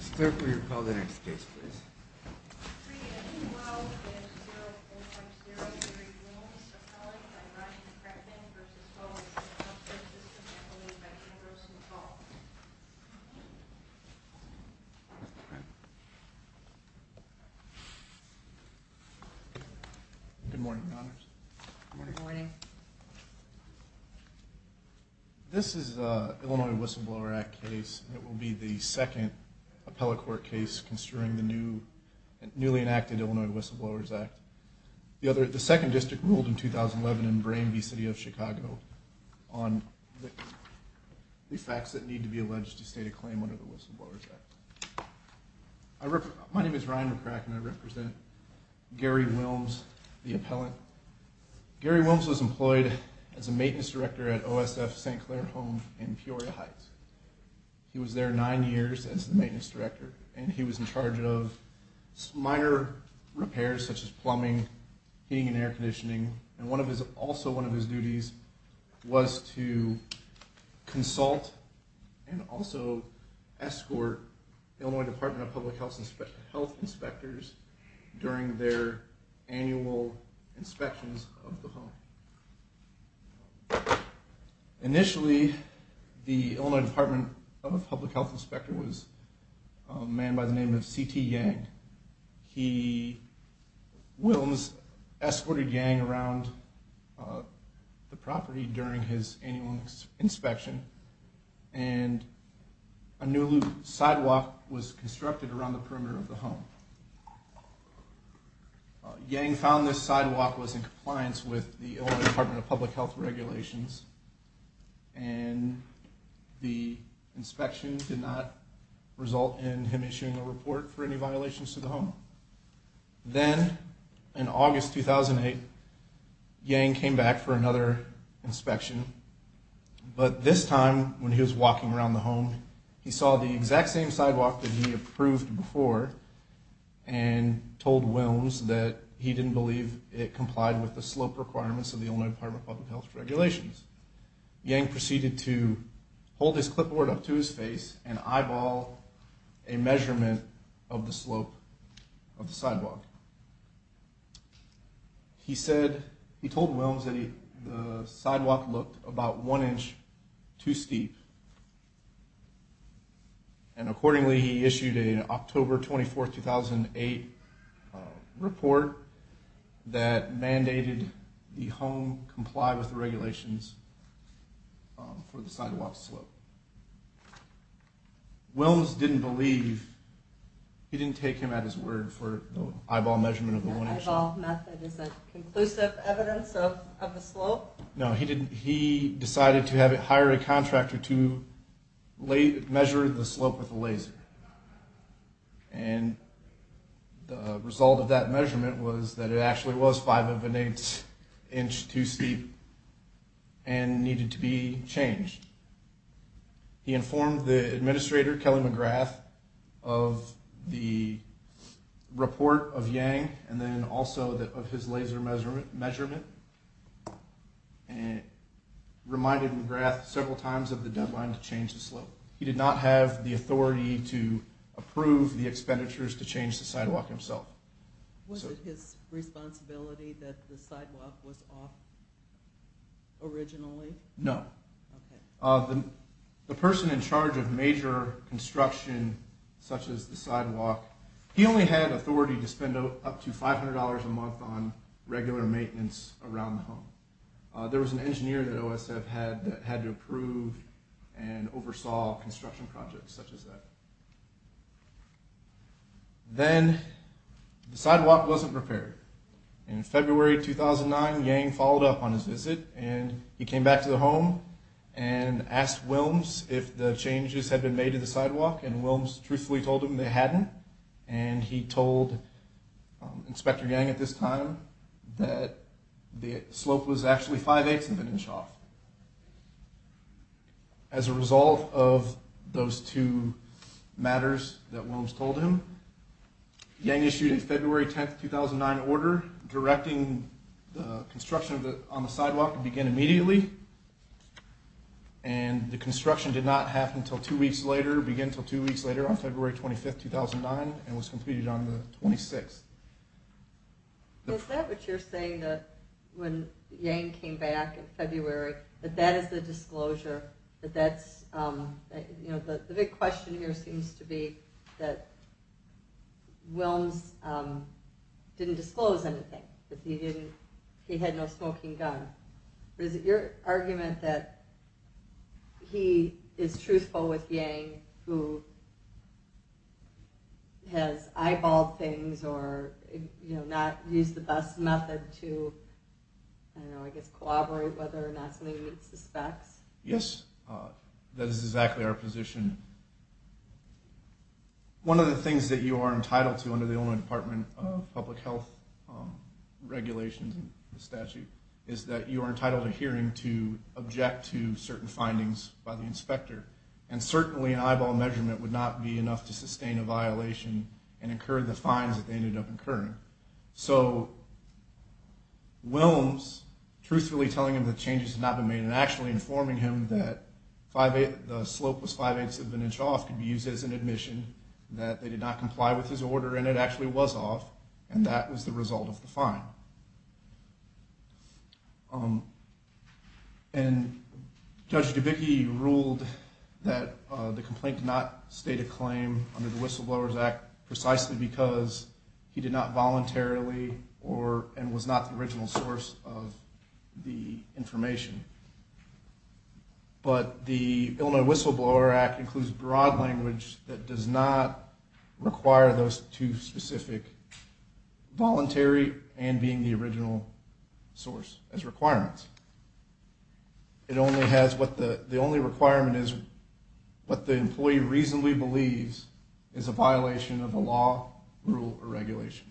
Mr. Clerk, will you call the next case, please? 3-A-2-12-0-0-0-0-0-3-Blooms Appellant by Rodney Krepman v. OSF Healthcare System Appellant by Andrew St. Paul Good morning, Your Honors. Good morning. This is an Illinois Whistleblower Act case. It will be the second appellate court case considering the newly enacted Illinois Whistleblowers Act. The second district ruled in 2011 in Bramby City of Chicago on the facts that need to be alleged to state a claim under the Whistleblowers Act. My name is Ryan McCracken. I represent Gary Wilms, the appellant. Gary Wilms was employed as a maintenance director at OSF St. Clair Home in Peoria Heights. He was there nine years as the maintenance director, and he was in charge of minor repairs such as plumbing, heating and air conditioning, and also one of his duties was to consult and also escort Illinois Department of Public Health inspectors during their annual inspections of the home. Initially, the Illinois Department of Public Health inspector was a man by the name of C.T. Yang. He, Wilms, escorted Yang around the property during his annual inspection, and a new sidewalk was constructed around the perimeter of the home. Yang found this sidewalk was in compliance with the Illinois Department of Public Health regulations, and the inspection did not result in him issuing a report for any violations to the home. Then, in August 2008, Yang came back for another inspection, but this time when he was walking around the home, he saw the exact same sidewalk that he approved before and told Wilms that he didn't believe it complied with the slope requirements of the Illinois Department of Public Health regulations. Yang proceeded to hold his clipboard up to his face and eyeball a measurement of the slope of the sidewalk. He said, he told Wilms that the sidewalk looked about one inch too steep, and accordingly he issued an October 24, 2008 report that mandated the home comply with the regulations for the sidewalk slope. Wilms didn't believe, he didn't take him at his word for the eyeball measurement of the one inch slope. The eyeball method is a conclusive evidence of the slope? No, he decided to hire a contractor to measure the slope with a laser, and the result of that measurement was that it actually was 5-1-8 inch too steep and needed to be changed. He informed the administrator, Kelly McGrath, of the report of Yang, and then also of his laser measurement, and reminded McGrath several times of the deadline to change the slope. He did not have the authority to approve the expenditures to change the sidewalk himself. Was it his responsibility that the sidewalk was off originally? No. Okay. The person in charge of major construction, such as the sidewalk, he only had authority to spend up to $500 a month on regular maintenance around the home. There was an engineer that OSF had that had to approve and oversaw construction projects such as that. Then the sidewalk wasn't prepared. In February 2009, Yang followed up on his visit, and he came back to the home and asked Wilms if the changes had been made to the sidewalk, and Wilms truthfully told him they hadn't, and he told Inspector Yang at this time that the slope was actually 5-1-8 of an inch off. As a result of those two matters that Wilms told him, Yang issued a February 10, 2009 order directing the construction on the sidewalk to begin immediately, and the construction did not happen until two weeks later, began until two weeks later on February 25, 2009, and was completed on the 26th. Is that what you're saying, that when Yang came back in February, that that is the disclosure? The big question here seems to be that Wilms didn't disclose anything, that he had no smoking gun. Is it your argument that he is truthful with Yang who has eyeballed things or not used the best method to collaborate whether or not something he suspects? Yes, that is exactly our position. One of the things that you are entitled to under the Illinois Department of Public Health regulations and the statute to object to certain findings by the inspector, and certainly an eyeball measurement would not be enough to sustain a violation and incur the fines that they ended up incurring. So, Wilms truthfully telling him that changes had not been made and actually informing him that the slope was 5-8 of an inch off could be used as an admission that they did not comply with his order and it actually was off, and that was the result of the fine. And Judge Dubicki ruled that the complaint did not state a claim under the Whistleblowers Act precisely because he did not voluntarily and was not the original source of the information. But the Illinois Whistleblower Act includes broad language that does not require those two specific voluntary and being the original source as requirements. The only requirement is what the employee reasonably believes is a violation of a law, rule, or regulation.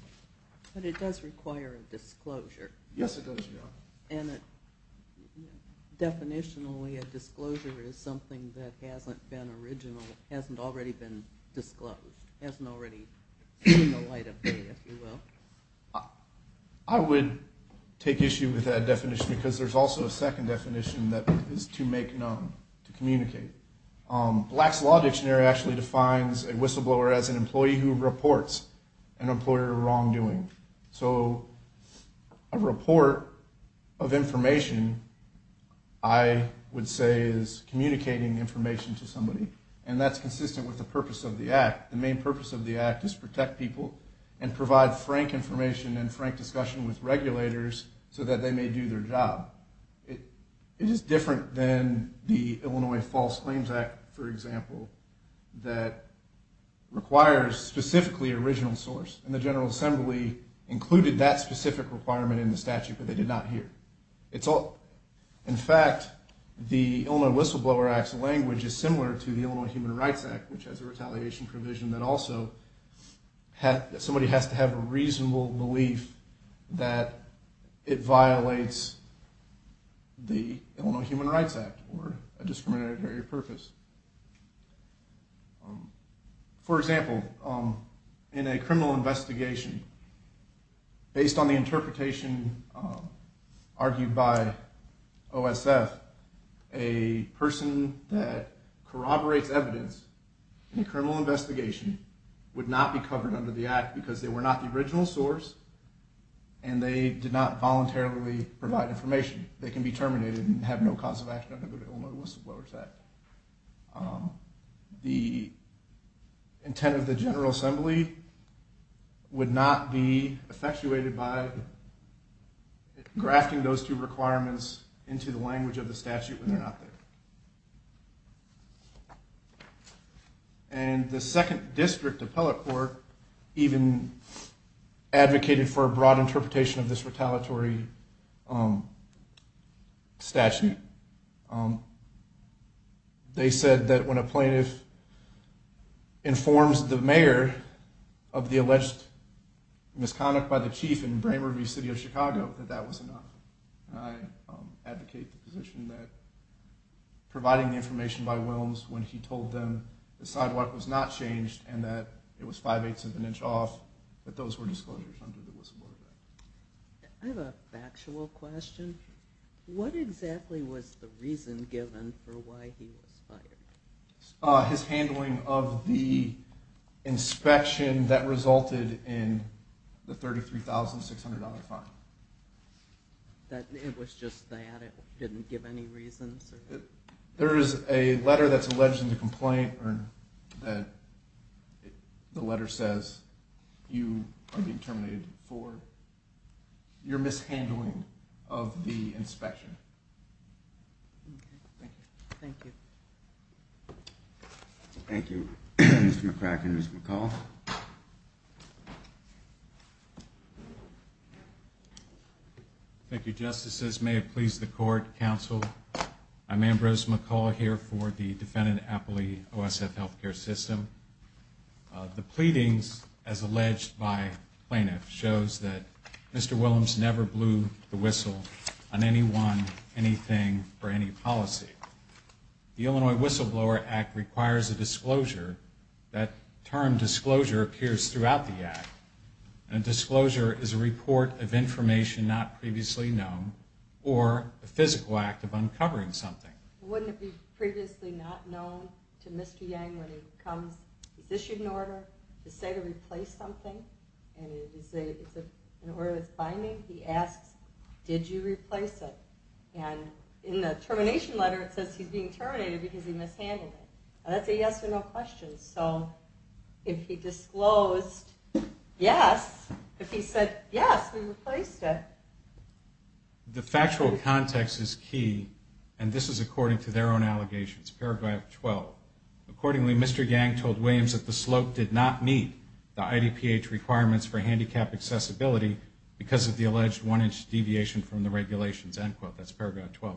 But it does require a disclosure. Yes, it does. And definitionally a disclosure is something that hasn't been original, hasn't already been disclosed, hasn't already seen the light of day, if you will. I would take issue with that definition because there's also a second definition that is to make known, to communicate. Black's Law Dictionary actually defines a whistleblower as an employee who reports an employer wrongdoing. So a report of information, I would say is communicating information to somebody, and that's consistent with the purpose of the Act. The main purpose of the Act is to protect people and provide frank information and frank discussion with regulators so that they may do their job. It is different than the Illinois False Claims Act, for example, that requires specifically original source, and the General Assembly included that specific requirement in the statute, but they did not hear it. In fact, the Illinois Whistleblower Act's language is similar to the Illinois Human Rights Act, which has a retaliation provision that also somebody has to have a reasonable belief that it violates the Illinois Human Rights Act or a discriminatory purpose. For example, in a criminal investigation, based on the interpretation argued by OSF, a person that corroborates evidence in a criminal investigation would not be covered under the Act because they were not the original source and they did not voluntarily provide information. They can be terminated and have no cause of action under the Illinois Whistleblower Act. The intent of the General Assembly would not be effectuated by grafting those two requirements into the language of the statute when they're not there. And the 2nd District Appellate Court even advocated for a broad interpretation of this retaliatory statute. They said that when a plaintiff informs the mayor of the alleged misconduct by the chief in Brainerd v. City of Chicago, that that was enough. I advocate the position that providing the information by Williams when he told them the sidewalk was not changed and that it was 5 eighths of an inch off, that those were disclosures under the Whistleblower Act. I have a factual question. What exactly was the reason given for why he was fired? His handling of the inspection that resulted in the $33,600 fine. That it was just that, it didn't give any reason? There is a letter that's alleged in the complaint that the letter says you are being terminated for your mishandling of the inspection. Okay, thank you. Thank you, Mr. McCracken. Mr. McCall. Thank you, Justices. May it please the Court, Counsel, I'm Ambrose McCall here for the defendant Appley OSF Healthcare System. The pleadings, as alleged by plaintiffs, shows that Mr. Williams never blew the whistle on anyone, anything, or any policy. The Illinois Whistleblower Act requires a disclosure. That term disclosure appears throughout the act. A disclosure is a report of information not previously known or a physical act of uncovering something. Wouldn't it be previously not known to Mr. Yang when he comes, he's issued an order to say to replace something and it's an order that's binding? He asks, did you replace it? And in the termination letter it says he's being terminated because he mishandled it. That's a yes or no question. So if he disclosed yes, if he said yes, we replaced it. The factual context is key, and this is according to their own allegations, paragraph 12. Accordingly, Mr. Yang told Williams that the slope did not meet the IDPH requirements for handicap accessibility because of the alleged one-inch deviation from the regulations. That's paragraph 12.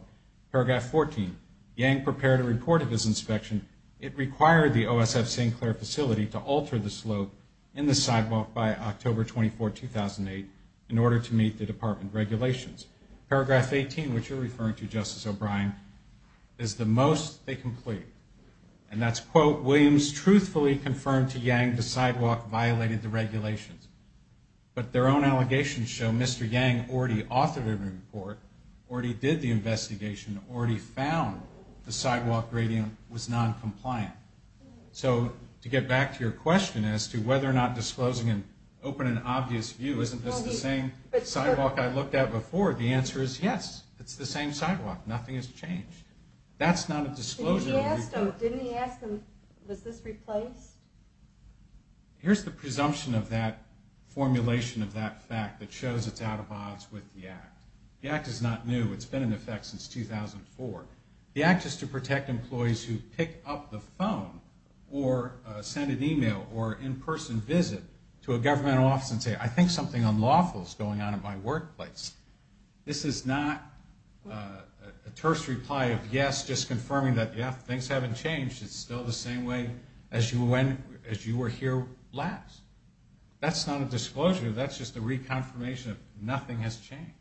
Paragraph 14, Yang prepared a report of his inspection. It required the OSF St. Clair facility to alter the slope in the sidewalk by October 24, 2008 in order to meet the department regulations. Paragraph 18, which you're referring to, Justice O'Brien, is the most they can plead, and that's, quote, Williams truthfully confirmed to Yang the sidewalk violated the regulations. But their own allegations show Mr. Yang already authored a report, already did the investigation, already found the sidewalk gradient was noncompliant. So to get back to your question as to whether or not disclosing an open and obvious view, isn't this the same sidewalk I looked at before? The answer is yes, it's the same sidewalk. Nothing has changed. That's not a disclosure. Didn't he ask them, was this replaced? Here's the presumption of that formulation of that fact that shows it's out of odds with the Act. The Act is not new. It's been in effect since 2004. The Act is to protect employees who pick up the phone or send an email or in-person visit to a governmental office and say, I think something unlawful is going on in my workplace. This is not a terse reply of yes, just confirming that, yeah, things haven't changed. It's still the same way as you were here last. That's not a disclosure. That's just a reconfirmation that nothing has changed.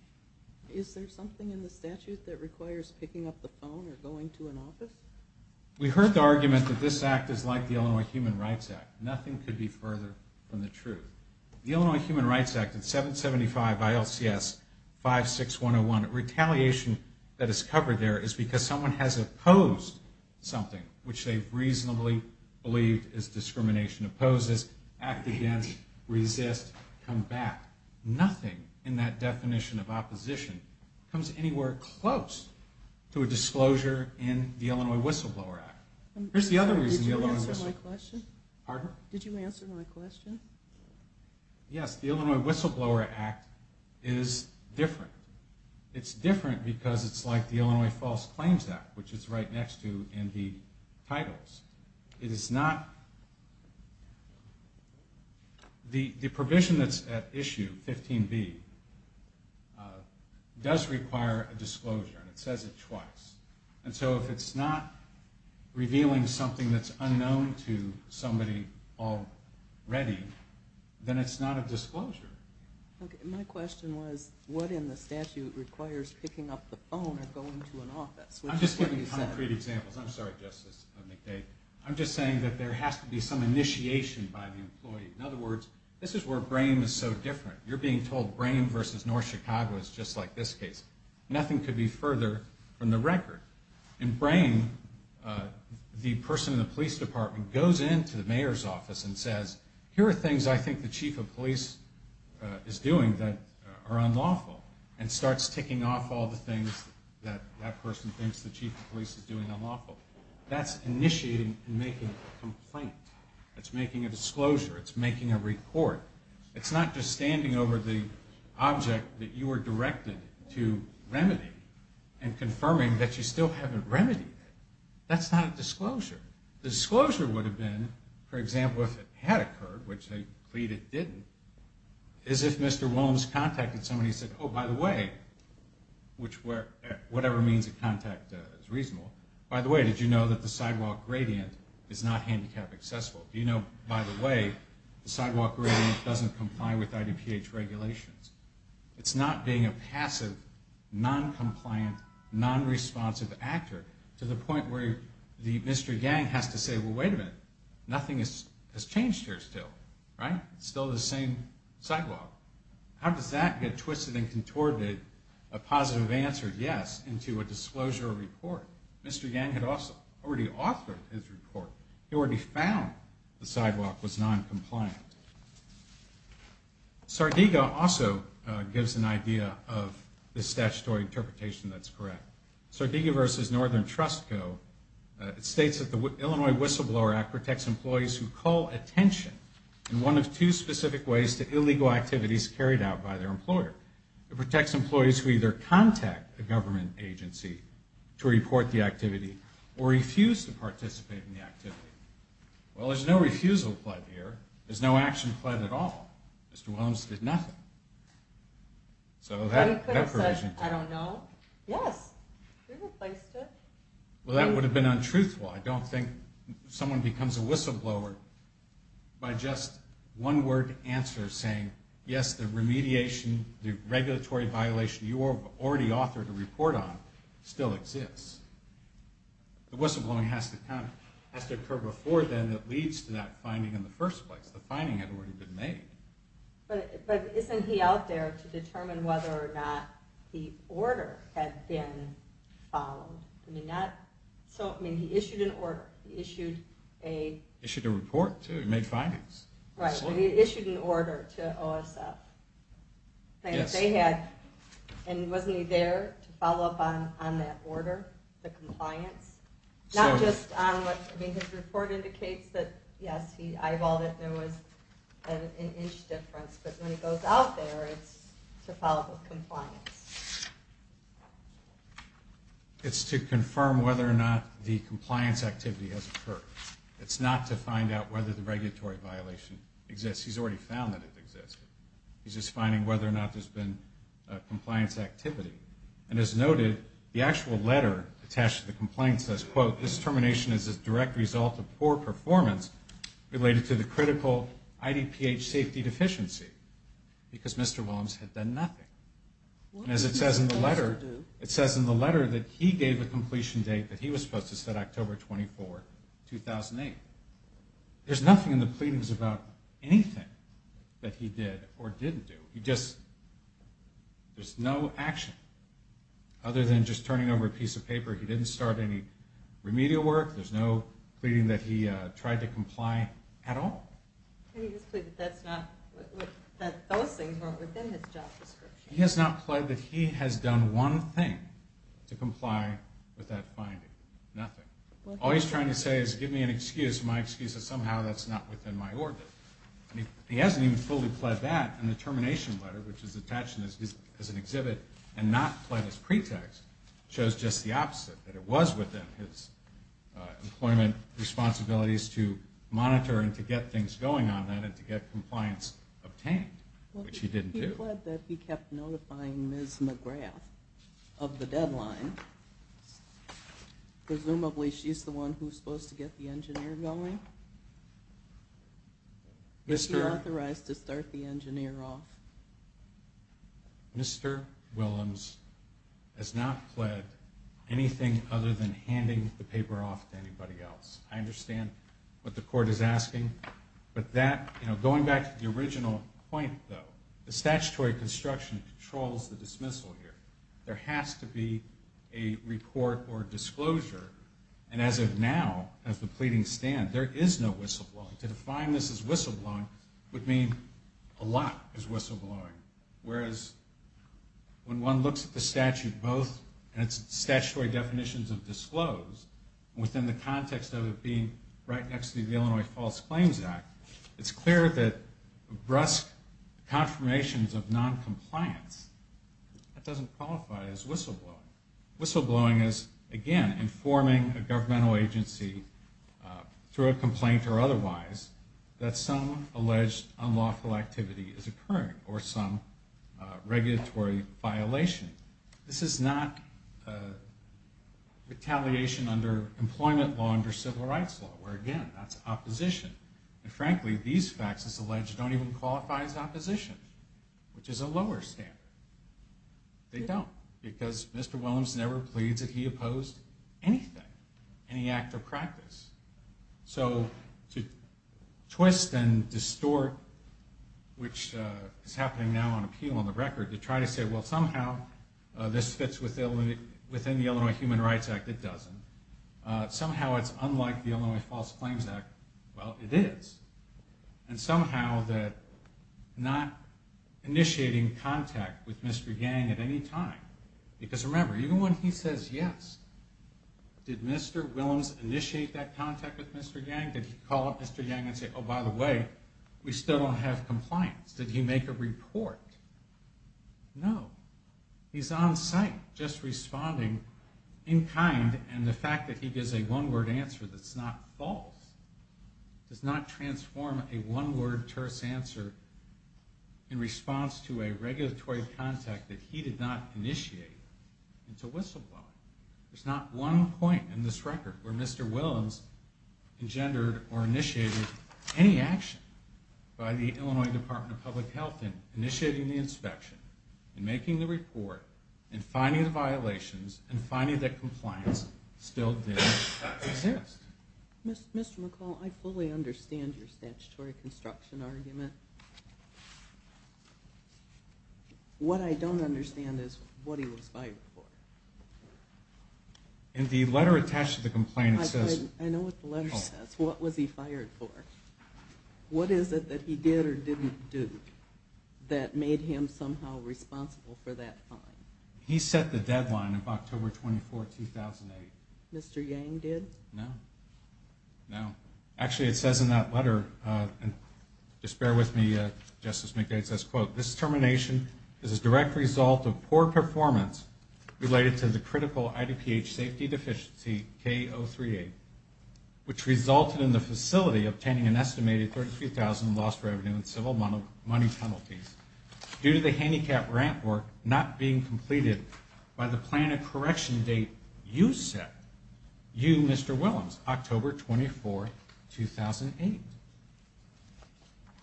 Is there something in the statute that requires picking up the phone or going to an office? We heard the argument that this Act is like the Illinois Human Rights Act. Nothing could be further from the truth. The Illinois Human Rights Act, it's 775 ILCS 56101. Retaliation that is covered there is because someone has opposed something, which they've reasonably believed is discrimination. Oppose this, act against, resist, come back. Nothing in that definition of opposition comes anywhere close to a disclosure in the Illinois Whistleblower Act. Here's the other reason the Illinois Whistleblower Act. Pardon? Did you answer my question? Yes, the Illinois Whistleblower Act is different. It's different because it's like the Illinois False Claims Act, which is right next to NV titles. It is not. The provision that's at issue, 15B, does require a disclosure, and it says it twice. If it's not revealing something that's unknown to somebody already, then it's not a disclosure. My question was what in the statute requires picking up the phone or going to an office? I'm just giving concrete examples. I'm sorry, Justice McDade. I'm just saying that there has to be some initiation by the employee. In other words, this is where Brame is so different. You're being told Brame versus North Chicago is just like this case. Nothing could be further from the record. In Brame, the person in the police department goes into the mayor's office and says, here are things I think the chief of police is doing that are unlawful, and starts ticking off all the things that that person thinks the chief of police is doing unlawful. That's initiating and making a complaint. It's making a disclosure. It's making a report. It's not just standing over the object that you were directed to remedy and confirming that you still haven't remedied it. That's not a disclosure. The disclosure would have been, for example, if it had occurred, which they plead it didn't, is if Mr. Williams contacted somebody and said, oh, by the way, which whatever means of contact is reasonable, by the way, did you know that the sidewalk gradient is not handicap accessible? Do you know, by the way, the sidewalk gradient doesn't comply with IDPH regulations? It's not being a passive, noncompliant, nonresponsive actor to the point where Mr. Yang has to say, well, wait a minute, nothing has changed here still. It's still the same sidewalk. How does that get twisted and contorted, a positive answer, yes, into a disclosure or report? Mr. Yang had already authored his report. He already found the sidewalk was noncompliant. Sardega also gives an idea of the statutory interpretation that's correct. Sardega v. Northern Trust Co. states that the Illinois Whistleblower Act protects employees who call attention in one of two specific ways to illegal activities carried out by their employer. It protects employees who either contact a government agency to report the activity or refuse to participate in the activity. Well, there's no refusal pled here. There's no action pled at all. Mr. Williams did nothing. So that provision. I don't know. Yes. Well, that would have been untruthful. I don't think someone becomes a whistleblower by just one word answer saying, yes, the remediation, the regulatory violation you already authored a report on still exists. The whistleblowing has to occur before then that leads to that finding in the first place. The finding had already been made. But isn't he out there to determine whether or not the order had been followed? I mean, he issued an order. He issued a report, too. He made findings. Right. He issued an order to OSF. Yes. And wasn't he there to follow up on that order, the compliance? Not just on what, I mean, his report indicates that, yes, he eyeballed it. There was an inch difference. But when he goes out there, it's to follow up with compliance. It's to confirm whether or not the compliance activity has occurred. It's not to find out whether the regulatory violation exists. He's already found that it exists. He's just finding whether or not there's been compliance activity. And as noted, the actual letter attached to the complaint says, quote, this termination is a direct result of poor performance related to the critical IDPH safety deficiency because Mr. Williams had done nothing. And as it says in the letter, it says in the letter that he gave a completion date that he was supposed to set October 24, 2008. There's nothing in the pleadings about anything that he did or didn't do. He just, there's no action other than just turning over a piece of paper. He didn't start any remedial work. There's no pleading that he tried to comply at all. And he has pleaded that those things weren't within his job description. He has not pledged that he has done one thing to comply with that finding. Nothing. All he's trying to say is give me an excuse. My excuse is somehow that's not within my order. He hasn't even fully pledged that in the termination letter, which is attached as an exhibit and not pledged as pretext, shows just the opposite, that it was within his employment responsibilities to monitor and to get things going on that and to get compliance obtained, which he didn't do. He pled that he kept notifying Ms. McGrath of the deadline. Presumably she's the one who's supposed to get the engineer going. Is he authorized to start the engineer off? Mr. Willems has not pled anything other than handing the paper off to anybody else. I understand what the court is asking. But that, going back to the original point, though, the statutory construction controls the dismissal here. There has to be a report or disclosure. And as of now, as the pleadings stand, there is no whistleblowing. To define this as whistleblowing would mean a lot is whistleblowing, whereas when one looks at the statute both in its statutory definitions of disclosed within the context of it being right next to the Illinois False Statements of Noncompliance, that doesn't qualify as whistleblowing. Whistleblowing is, again, informing a governmental agency, through a complaint or otherwise, that some alleged unlawful activity is occurring or some regulatory violation. This is not retaliation under employment law under civil rights law, where, again, that's opposition. And, frankly, these facts, as alleged, don't even qualify as opposition, which is a lower standard. They don't, because Mr. Willems never pleads that he opposed anything, any act or practice. So to twist and distort, which is happening now on appeal on the record, to try to say, well, somehow this fits within the Illinois Human Rights Act, it doesn't. Somehow it's unlike the Illinois False Claims Act. Well, it is. And somehow that not initiating contact with Mr. Yang at any time, because remember, even when he says yes, did Mr. Willems initiate that contact with Mr. Yang? Did he call up Mr. Yang and say, oh, by the way, we still don't have compliance? Did he make a report? No. He's on site, just responding in kind, and the fact that he gives a one-word answer that's not false does not transform a one-word, terse answer in response to a regulatory contact that he did not initiate into whistleblowing. There's not one point in this record where Mr. Willems engendered or initiated any action by the Illinois Department of Public Health in initiating the inspection, in making the report, in finding the violations, in finding that compliance still did exist. Mr. McCall, I fully understand your statutory construction argument. What I don't understand is what he was fired for. In the letter attached to the complaint, it says... I know what the letter says. What was he fired for? What is it that he did or didn't do that made him somehow responsible for that fine? He set the deadline of October 24, 2008. Mr. Yang did? No. No. Actually, it says in that letter, and just bear with me, Justice McDade says, quote, this termination is a direct result of poor performance related to the critical IDPH safety deficiency K038, which resulted in the facility obtaining an estimated $33,000 in lost revenue and civil money penalties due to the handicap ramp work not being completed by the plan of correction date you set, you, Mr. Willems, October 24, 2008.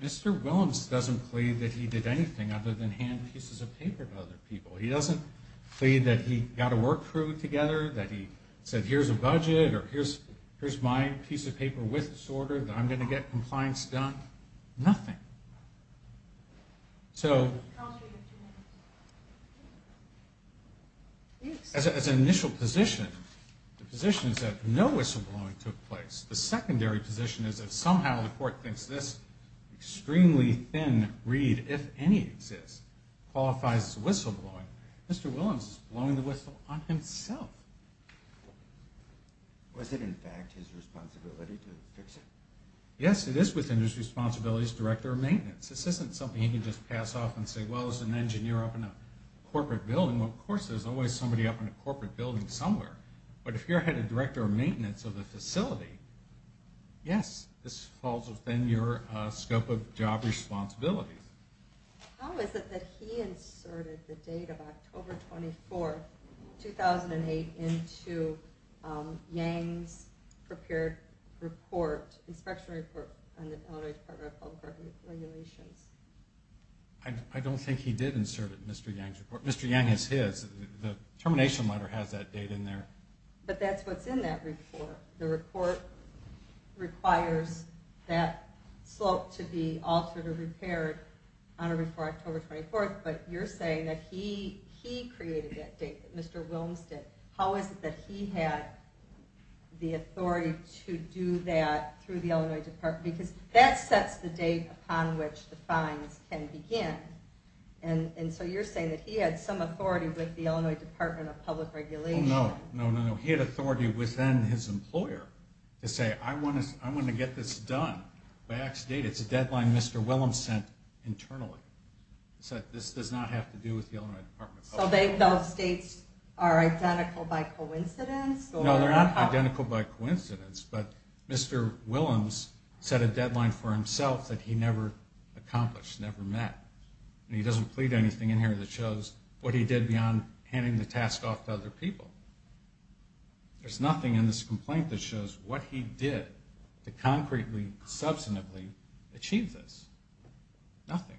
Mr. Willems doesn't plead that he did anything other than hand pieces of paper to other people. He doesn't plead that he got a work crew together, that he said, here's a budget, or here's my piece of paper with this order, that I'm going to get compliance done. Nothing. So... As an initial position, the position is that no whistleblowing took place. The secondary position is that somehow the court thinks this extremely thin read, if any exists, qualifies as whistleblowing. Mr. Willems is blowing the whistle on himself. Was it, in fact, his responsibility to fix it? Yes, it is within his responsibility as director of maintenance. This isn't something he can just pass off and say, well, there's an engineer up in a corporate building. Well, of course, there's always somebody up in a corporate building somewhere. But if you're head of director of maintenance of the facility, yes, this falls within your scope of job responsibilities. How is it that he inserted the date of October 24, 2008, into Yang's prepared report, inspection report on the Illinois Department of Public Regulations? I don't think he did insert it in Mr. Yang's report. Mr. Yang is his. The termination letter has that date in there. But that's what's in that report. The report requires that slope to be altered or repaired on or before October 24. But you're saying that he created that date that Mr. Willems did. How is it that he had the authority to do that through the Illinois Department? Because that sets the date upon which the fines can begin. And so you're saying that he had some authority with the Illinois Department of Public Regulations. No, no, no. He had authority within his employer to say, I want to get this done by X date. It's a deadline Mr. Willems sent internally. He said, this does not have to do with the Illinois Department of Public Regulations. So those dates are identical by coincidence? No, they're not identical by coincidence. But Mr. Willems set a deadline for himself that he never accomplished, never met. And he doesn't plead anything in here that shows what he did beyond handing the task off to other people. There's nothing in this complaint that shows what he did to concretely, substantively achieve this. Nothing.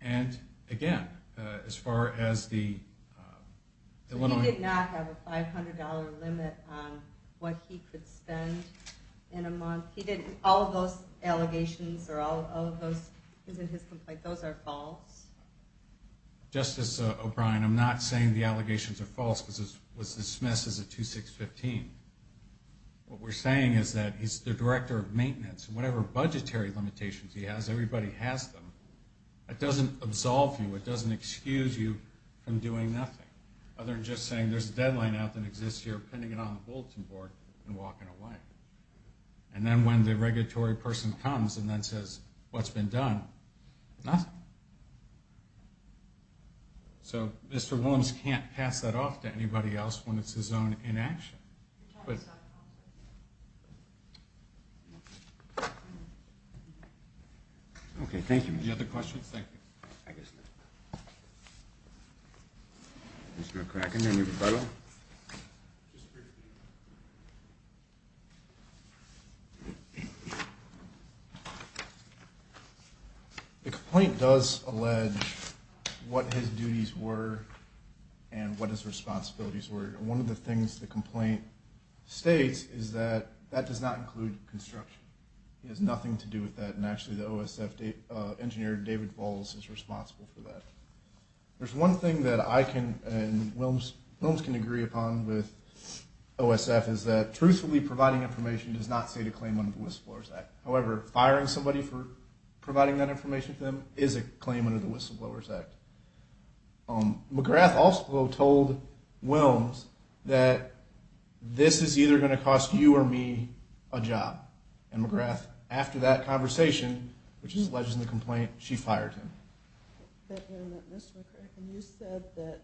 And again, as far as the Illinois... He did not have a $500 limit on what he could spend in a month. He did all of those allegations or all of those in his complaint, those are false? Justice O'Brien, I'm not saying the allegations are false because it was dismissed as a 2-6-15. What we're saying is that he's the director of maintenance. Whatever budgetary limitations he has, everybody has them. It doesn't absolve you, it doesn't excuse you from doing nothing other than just saying there's a deadline out that exists here pending it on the bulletin board and walking away. And then when the regulatory person comes and then says what's been done, nothing. So Mr. Willems can't pass that off to anybody else when it's his own inaction. Okay, thank you. Any other questions? Thank you. Mr. McCracken, any rebuttal? Thank you. The complaint does allege what his duties were and what his responsibilities were. And one of the things the complaint states is that that does not include construction. It has nothing to do with that. And actually the OSF engineer, David Falls, is responsible for that. There's one thing that I can and Willems can agree upon with OSF is that truthfully providing information does not state a claim under the Whistleblowers Act. However, firing somebody for providing that information to them is a claim under the Whistleblowers Act. McGrath also told Willems that this is either going to cost you or me a job. And McGrath, after that conversation, which is alleged in the complaint, she fired him. Mr. McCracken, you said that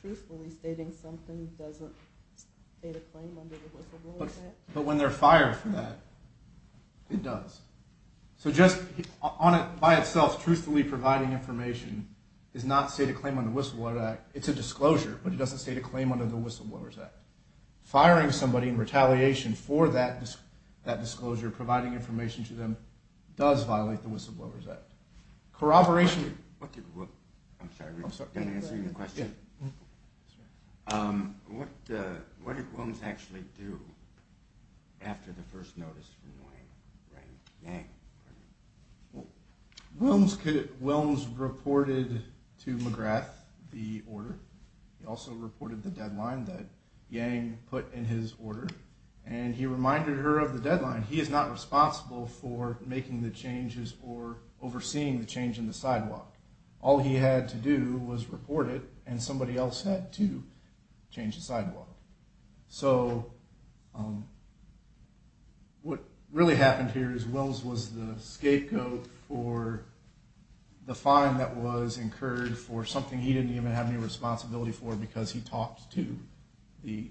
truthfully stating something doesn't state a claim under the Whistleblowers Act. But when they're fired for that, it does. So just by itself, truthfully providing information does not state a claim under the Whistleblowers Act. It's a disclosure, but it doesn't state a claim under the Whistleblowers Act. Firing somebody in retaliation for that disclosure, providing information to them, does violate the Whistleblowers Act. Corroboration. I'm sorry, can I answer your question? What did Willems actually do after the first notice from Yang? Willems reported to McGrath the order. He also reported the deadline that Yang put in his order. And he reminded her of the deadline. He is not responsible for making the changes or overseeing the change in the sidewalk. All he had to do was report it, and somebody else had to change the sidewalk. So what really happened here is Willems was the scapegoat for the fine that was incurred for something he didn't even have any responsibility for because he talked to the...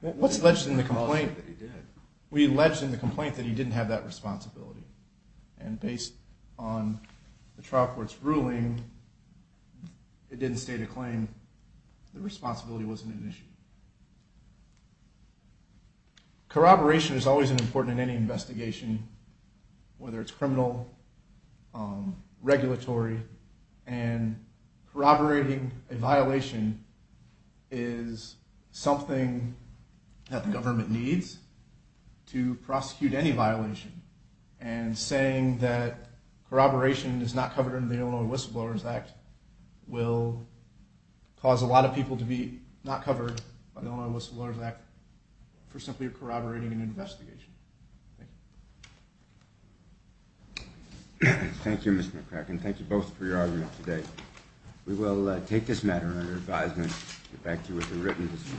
What's alleged in the complaint? We alleged in the complaint that he didn't have that responsibility. And based on the trial court's ruling, it didn't state a claim. The responsibility wasn't an issue. Corroboration is always important in any investigation, whether it's criminal, regulatory. And corroborating a violation is something that the government needs to prosecute any violation. And saying that corroboration is not covered under the Illinois Whistleblowers Act will cause a lot of people to be not covered by the Illinois Whistleblowers Act for simply corroborating an investigation. Thank you. Thank you, Mr. McCracken. Thank you both for your argument today. We will take this matter under advisement and get back to you with a written decision.